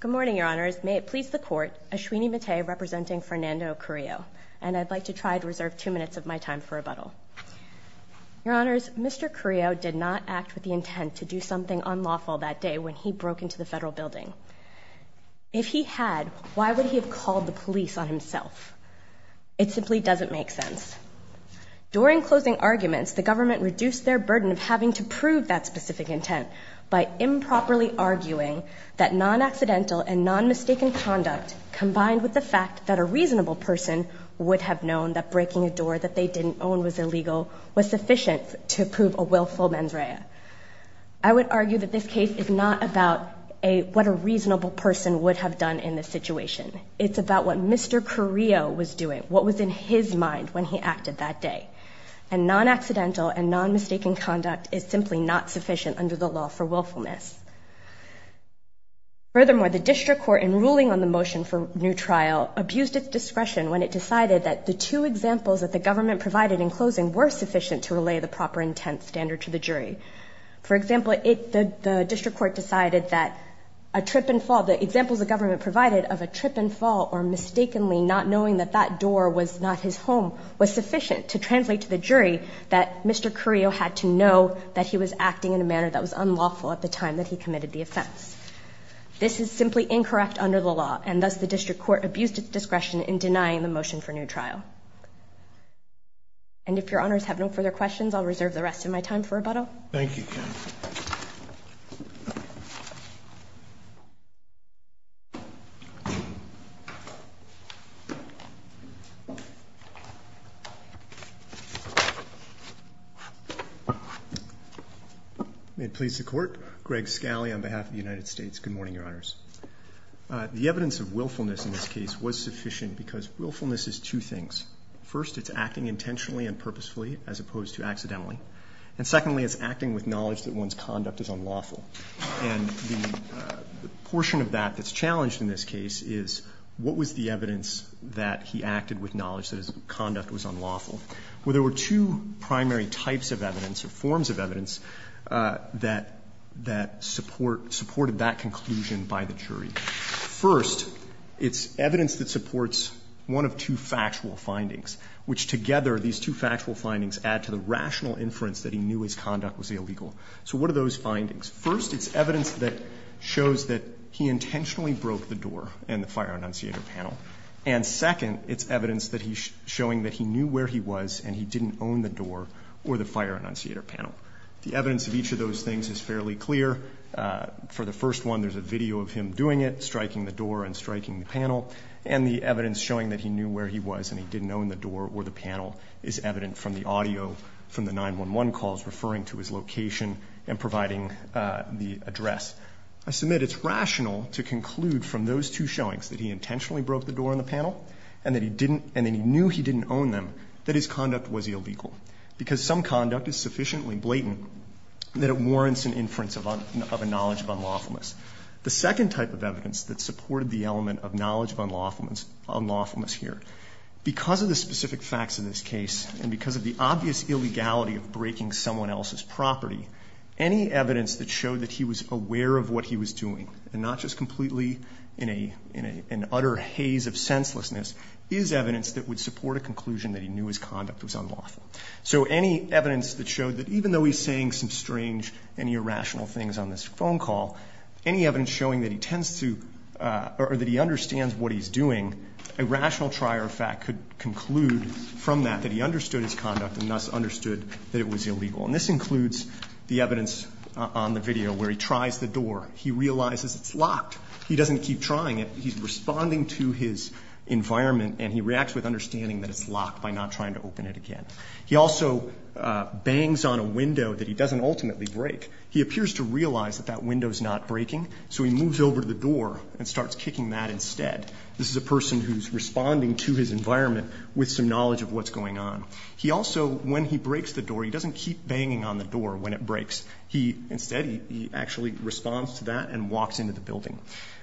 Good morning, Your Honors. May it please the Court, Ashwini Mate representing Fernando Carrillo. And I'd like to try to reserve two minutes of my time for rebuttal. Your Honors, Mr. Carrillo did not act with the intent to do something unlawful that day when he broke into the Federal Building. If he had, why would he have called the police on himself? It simply doesn't make sense. During closing arguments, the government reduced their burden of having to prove that specific intent by improperly arguing that non-accidental and non-mistaken conduct combined with the fact that a reasonable person would have known that breaking a door that they didn't own was illegal was sufficient to prove a willful mens rea. I would argue that this case is not about what a reasonable person would have done in this situation. It's about what Mr. Carrillo was doing, what was in his mind when he acted that day. And non-accidental and non-mistaken conduct is simply not sufficient under the law for willfulness. Furthermore, the district court in ruling on the motion for new trial abused its discretion when it decided that the two examples that the government provided in closing were sufficient to relay the proper intent standard to the jury. For example, the district court decided that a trip and fall, the examples the government provided of a trip and fall or mistakenly not knowing that that door was not his home was sufficient to translate to the jury that Mr. Carrillo had to know that he was acting in a manner that was unlawful at the time that he committed the offense. This is simply incorrect under the law, and thus the district court abused its discretion in denying the motion for new trial. And if your honors have no further questions, I'll reserve the rest of my time for rebuttal. Thank you. May it please the court. Greg Scali on behalf of the United States. Good morning, your honors. The evidence of willfulness in this case was sufficient because willfulness is two things. First, it's acting intentionally and purposefully as opposed to accidentally. And secondly, it's acting with knowledge that one's conduct is unlawful. And the portion of that that's challenged in this case is what was the evidence that he acted with knowledge that his conduct was unlawful? Well, there were two primary types of evidence or forms of evidence that supported that conclusion by the jury. First, it's evidence that supports one of two factual findings, which together, these two factual findings add to the rational inference that he knew his conduct was illegal. So what are those findings? First, it's evidence that shows that he intentionally broke the door in the fire annunciator panel. And second, it's evidence that he's showing that he knew where he was and he didn't own the door or the fire annunciator panel. The evidence of each of those things is fairly clear. For the first one, there's a video of him doing it, striking the door and striking the panel. And the evidence showing that he knew where he was and he didn't own the door or the panel is evident from the audio from the 911 calls referring to his location and providing the address. I submit it's rational to conclude from those two showings that he intentionally broke the door on the panel and that he knew he didn't own them, that his conduct was illegal. Because some conduct is sufficiently blatant that it warrants an inference of a knowledge of unlawfulness. The second type of evidence that supported the element of knowledge of unlawfulness here, because of the specific facts of this case and because of the obvious illegality of breaking someone else's property, any evidence that showed that he was aware of what he was doing and not just completely in an utter haze of senselessness is evidence that would support a conclusion that he knew his conduct was unlawful. So any evidence that showed that even though he's saying some strange and irrational things on this phone call, any evidence showing that he tends to or that he understands what he's doing, a rational trier of fact could conclude from that that he understood his conduct and thus understood that it was illegal. And this includes the evidence on the video where he tries the door. He realizes it's locked. He doesn't keep trying it. He's responding to his environment and he reacts with understanding that it's locked by not trying to open it again. He also bangs on a window that he doesn't ultimately break. He appears to realize that that window is not breaking, so he moves over to the door and starts kicking that instead. This is a person who's responding to his environment with some knowledge of what's going on. He also, when he breaks the door, he doesn't keep banging on the door when it breaks. He instead, he actually responds to that and walks into the building.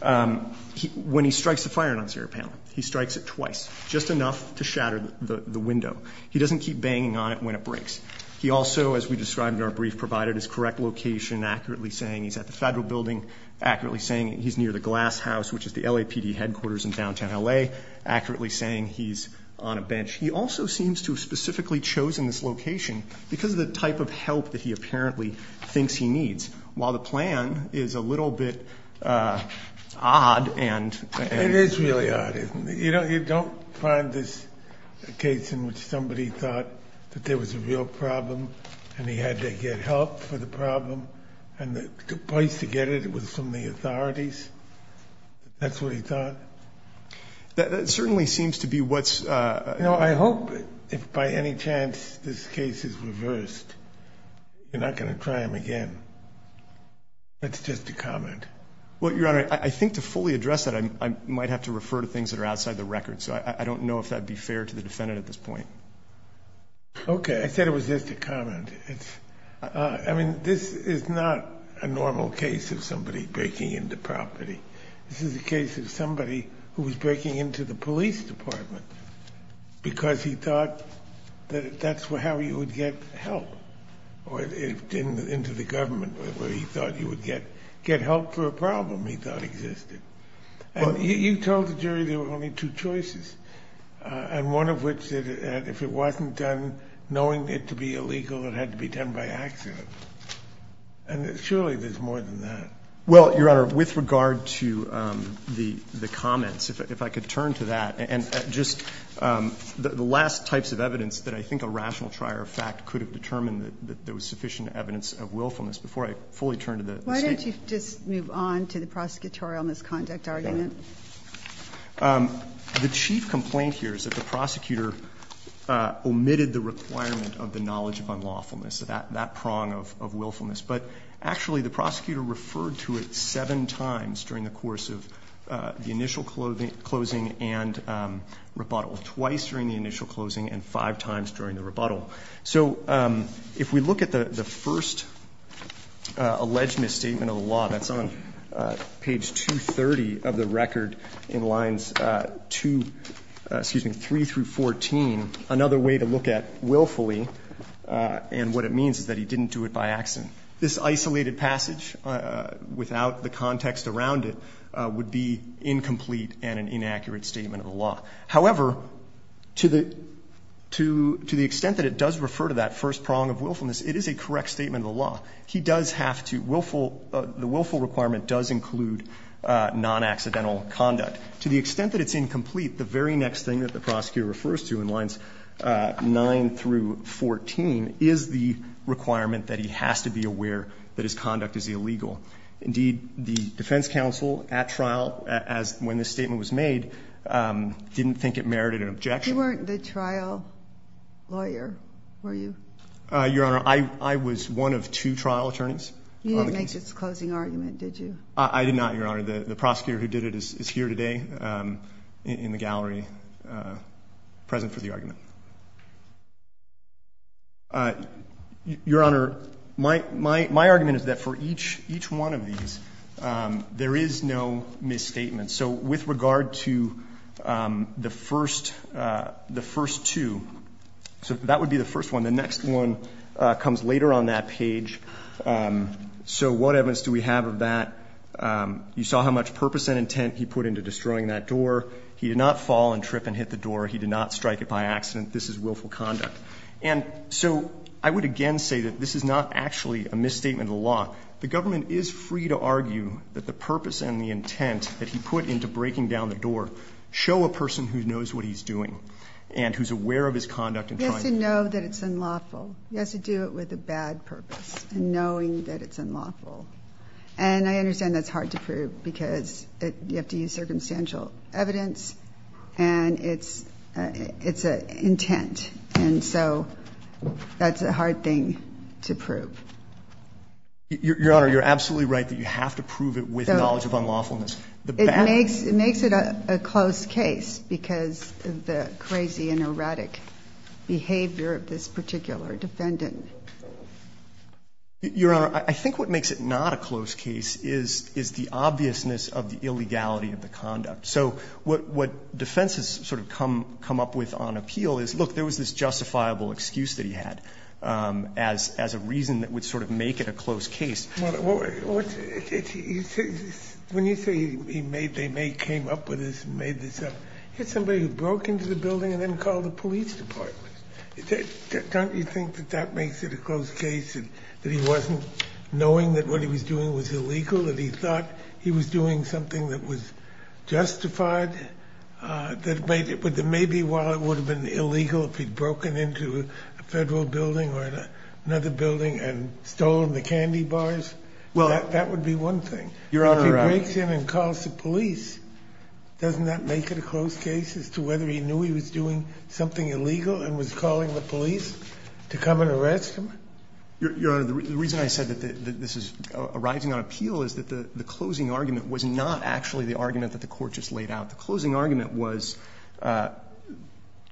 When he strikes the fire alarm, he strikes it twice, just enough to shatter the window. He doesn't keep banging on it when it breaks. He also, as we described in our brief, provided his correct location, accurately saying he's at the Federal Building, accurately saying he's near the Glass House, which is the LAPD headquarters in downtown L.A., accurately saying he's on a bench. He also seems to have specifically chosen this location because of the type of help that he apparently thinks he needs. While the plan is a little bit odd and- It is really odd, isn't it? You don't find this case in which somebody thought that there was a real problem and he had to get help for the problem and the place to get it was from the authorities? That's what he thought? That certainly seems to be what's- I hope if by any chance this case is reversed, you're not going to try him again. That's just a comment. Well, Your Honor, I think to fully address that, I might have to refer to things that are outside the record, so I don't know if that would be fair to the defendant at this point. Okay. I said it was just a comment. I mean, this is not a normal case of somebody breaking into property. This is a case of somebody who was breaking into the police department because he thought that that's how he would get help, or into the government where he thought he would get help for a problem he thought existed. And you told the jury there were only two choices, and one of which said that if it wasn't done knowing it to be illegal, it had to be done by accident. And surely there's more than that. Well, Your Honor, with regard to the comments, if I could turn to that, and just the last types of evidence that I think a rational trier of fact could have determined that there was sufficient evidence of willfulness before I fully turn to the State. Why don't you just move on to the prosecutorial misconduct argument? The chief complaint here is that the prosecutor omitted the requirement of the knowledge of unlawfulness, that prong of willfulness. But actually the prosecutor referred to it seven times during the course of the initial closing and rebuttal, twice during the initial closing and five times during the rebuttal. So if we look at the first alleged misstatement of the law, that's on page 230 of the record in lines 2, excuse me, 3 through 14, another way to look at willfully and what it means is that he didn't do it by accident. This isolated passage, without the context around it, would be incomplete and an inaccurate statement of the law. However, to the extent that it does refer to that first prong of willfulness, it is a correct statement of the law. He does have to, the willful requirement does include non-accidental conduct. To the extent that it's incomplete, the very next thing that the prosecutor refers to in lines 9 through 14 is the requirement that he has to be aware that his conduct is illegal. Indeed, the defense counsel at trial, when this statement was made, didn't think it merited an objection. You weren't the trial lawyer, were you? Your Honor, I was one of two trial attorneys on the case. You didn't make this closing argument, did you? I did not, Your Honor. The prosecutor who did it is here today in the gallery, present for the argument. Your Honor, my argument is that for each one of these, there is no misstatement. So with regard to the first two, that would be the first one. The next one comes later on that page. So what evidence do we have of that? You saw how much purpose and intent he put into destroying that door. He did not fall and trip and hit the door. He did not strike it by accident. This is willful conduct. And so I would again say that this is not actually a misstatement of the law. The government is free to argue that the purpose and the intent that he put into breaking down the door show a person who knows what he's doing and who's aware of his conduct in trying to do it. He has to know that it's unlawful. He has to do it with a bad purpose, knowing that it's unlawful. And I understand that's hard to prove because you have to use circumstantial evidence and it's an intent. And so that's a hard thing to prove. Your Honor, you're absolutely right that you have to prove it with knowledge of unlawfulness. It makes it a close case because of the crazy and erratic behavior of this particular defendant. Your Honor, I think what makes it not a close case is the obviousness of the illegality of the conduct. So what defense has sort of come up with on appeal is, look, there was this justifiable excuse that he had as a reason that would sort of make it a close case. When you say he made they may came up with this and made this up, here's somebody who broke into the building and then called the police department. Don't you think that that makes it a close case that he wasn't knowing that what he was doing was illegal, that he thought he was doing something that was justified, that maybe while it would have been illegal if he'd broken into a federal building or another building and stolen the candy bars, that would be one thing. If he breaks in and calls the police, doesn't that make it a close case as to whether he was doing something illegal and was calling the police to come and arrest him? Your Honor, the reason I said that this is arising on appeal is that the closing argument was not actually the argument that the court just laid out. The closing argument was,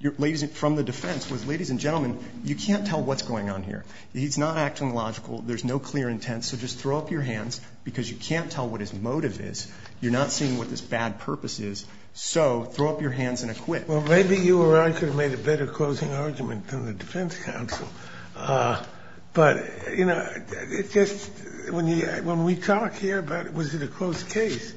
ladies and gentlemen, you can't tell what's going on here. He's not acting logical. There's no clear intent. So just throw up your hands because you can't tell what his motive is. You're not seeing what his bad purpose is. So throw up your hands and acquit. Well, maybe you or I could have made a better closing argument than the defense counsel. But, you know, when we talk here about was it a close case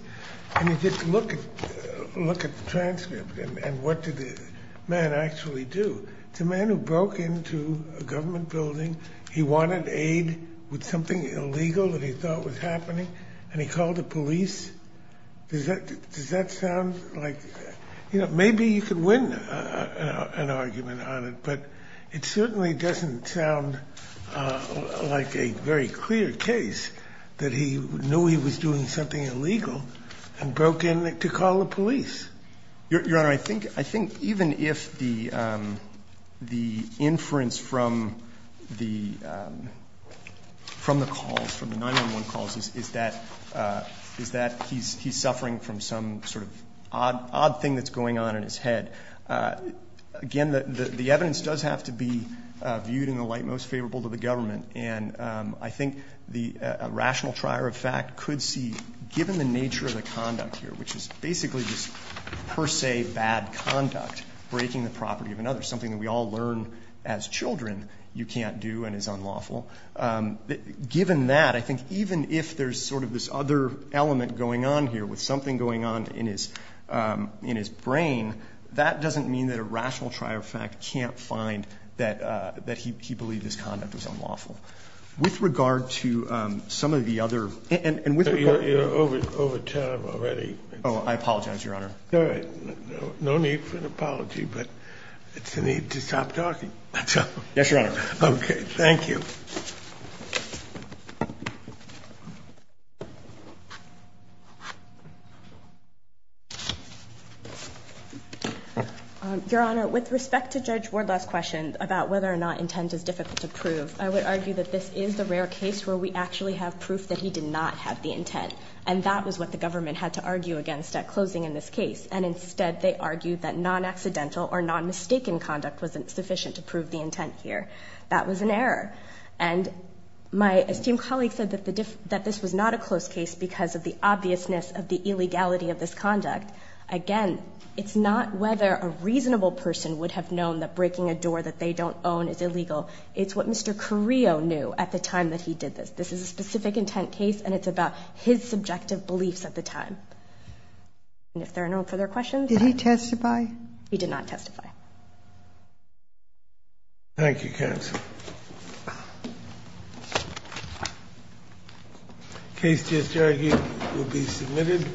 and you just look at the transcript and what did the man actually do? It's a man who broke into a government building. He wanted aid with something illegal that he thought was happening, and he called the police. Does that sound like, you know, maybe you could win an argument on it, but it certainly doesn't sound like a very clear case that he knew he was doing something illegal and broke in to call the police. Your Honor, I think even if the inference from the calls, from the 911 calls, is that he's suffering from some sort of odd thing that's going on in his head, again, the evidence does have to be viewed in the light most favorable to the government. And I think a rational trier of fact could see, given the nature of the conduct here, which is basically just per se bad conduct, breaking the property of another, something that we all learn as children you can't do and is unlawful. Given that, I think even if there's sort of this other element going on here with something going on in his brain, that doesn't mean that a rational trier of fact can't find that he believed this conduct was unlawful. With regard to some of the other... You're over time already. Oh, I apologize, Your Honor. All right. No need for an apology, but it's a need to stop talking. Yes, Your Honor. Okay, thank you. Your Honor, with respect to Judge Wardlaw's question about whether or not intent is difficult to prove, I would argue that this is the rare case where we actually have proof that he did not have the intent, and that was what the government had to argue against at closing in this case, and instead they argued that non-accidental or non-mistaken conduct wasn't sufficient to prove the intent here. That was an error. And my esteemed colleague said that this was not a close case because of the obviousness of the illegality of this conduct. Again, it's not whether a reasonable person would have known that breaking a door that they don't own is illegal. It's what Mr. Carrillo knew at the time that he did this. This is a specific intent case, and it's about his subjective beliefs at the time. And if there are no further questions... Did he testify? He did not testify. Thank you, counsel. Case just argued will be submitted.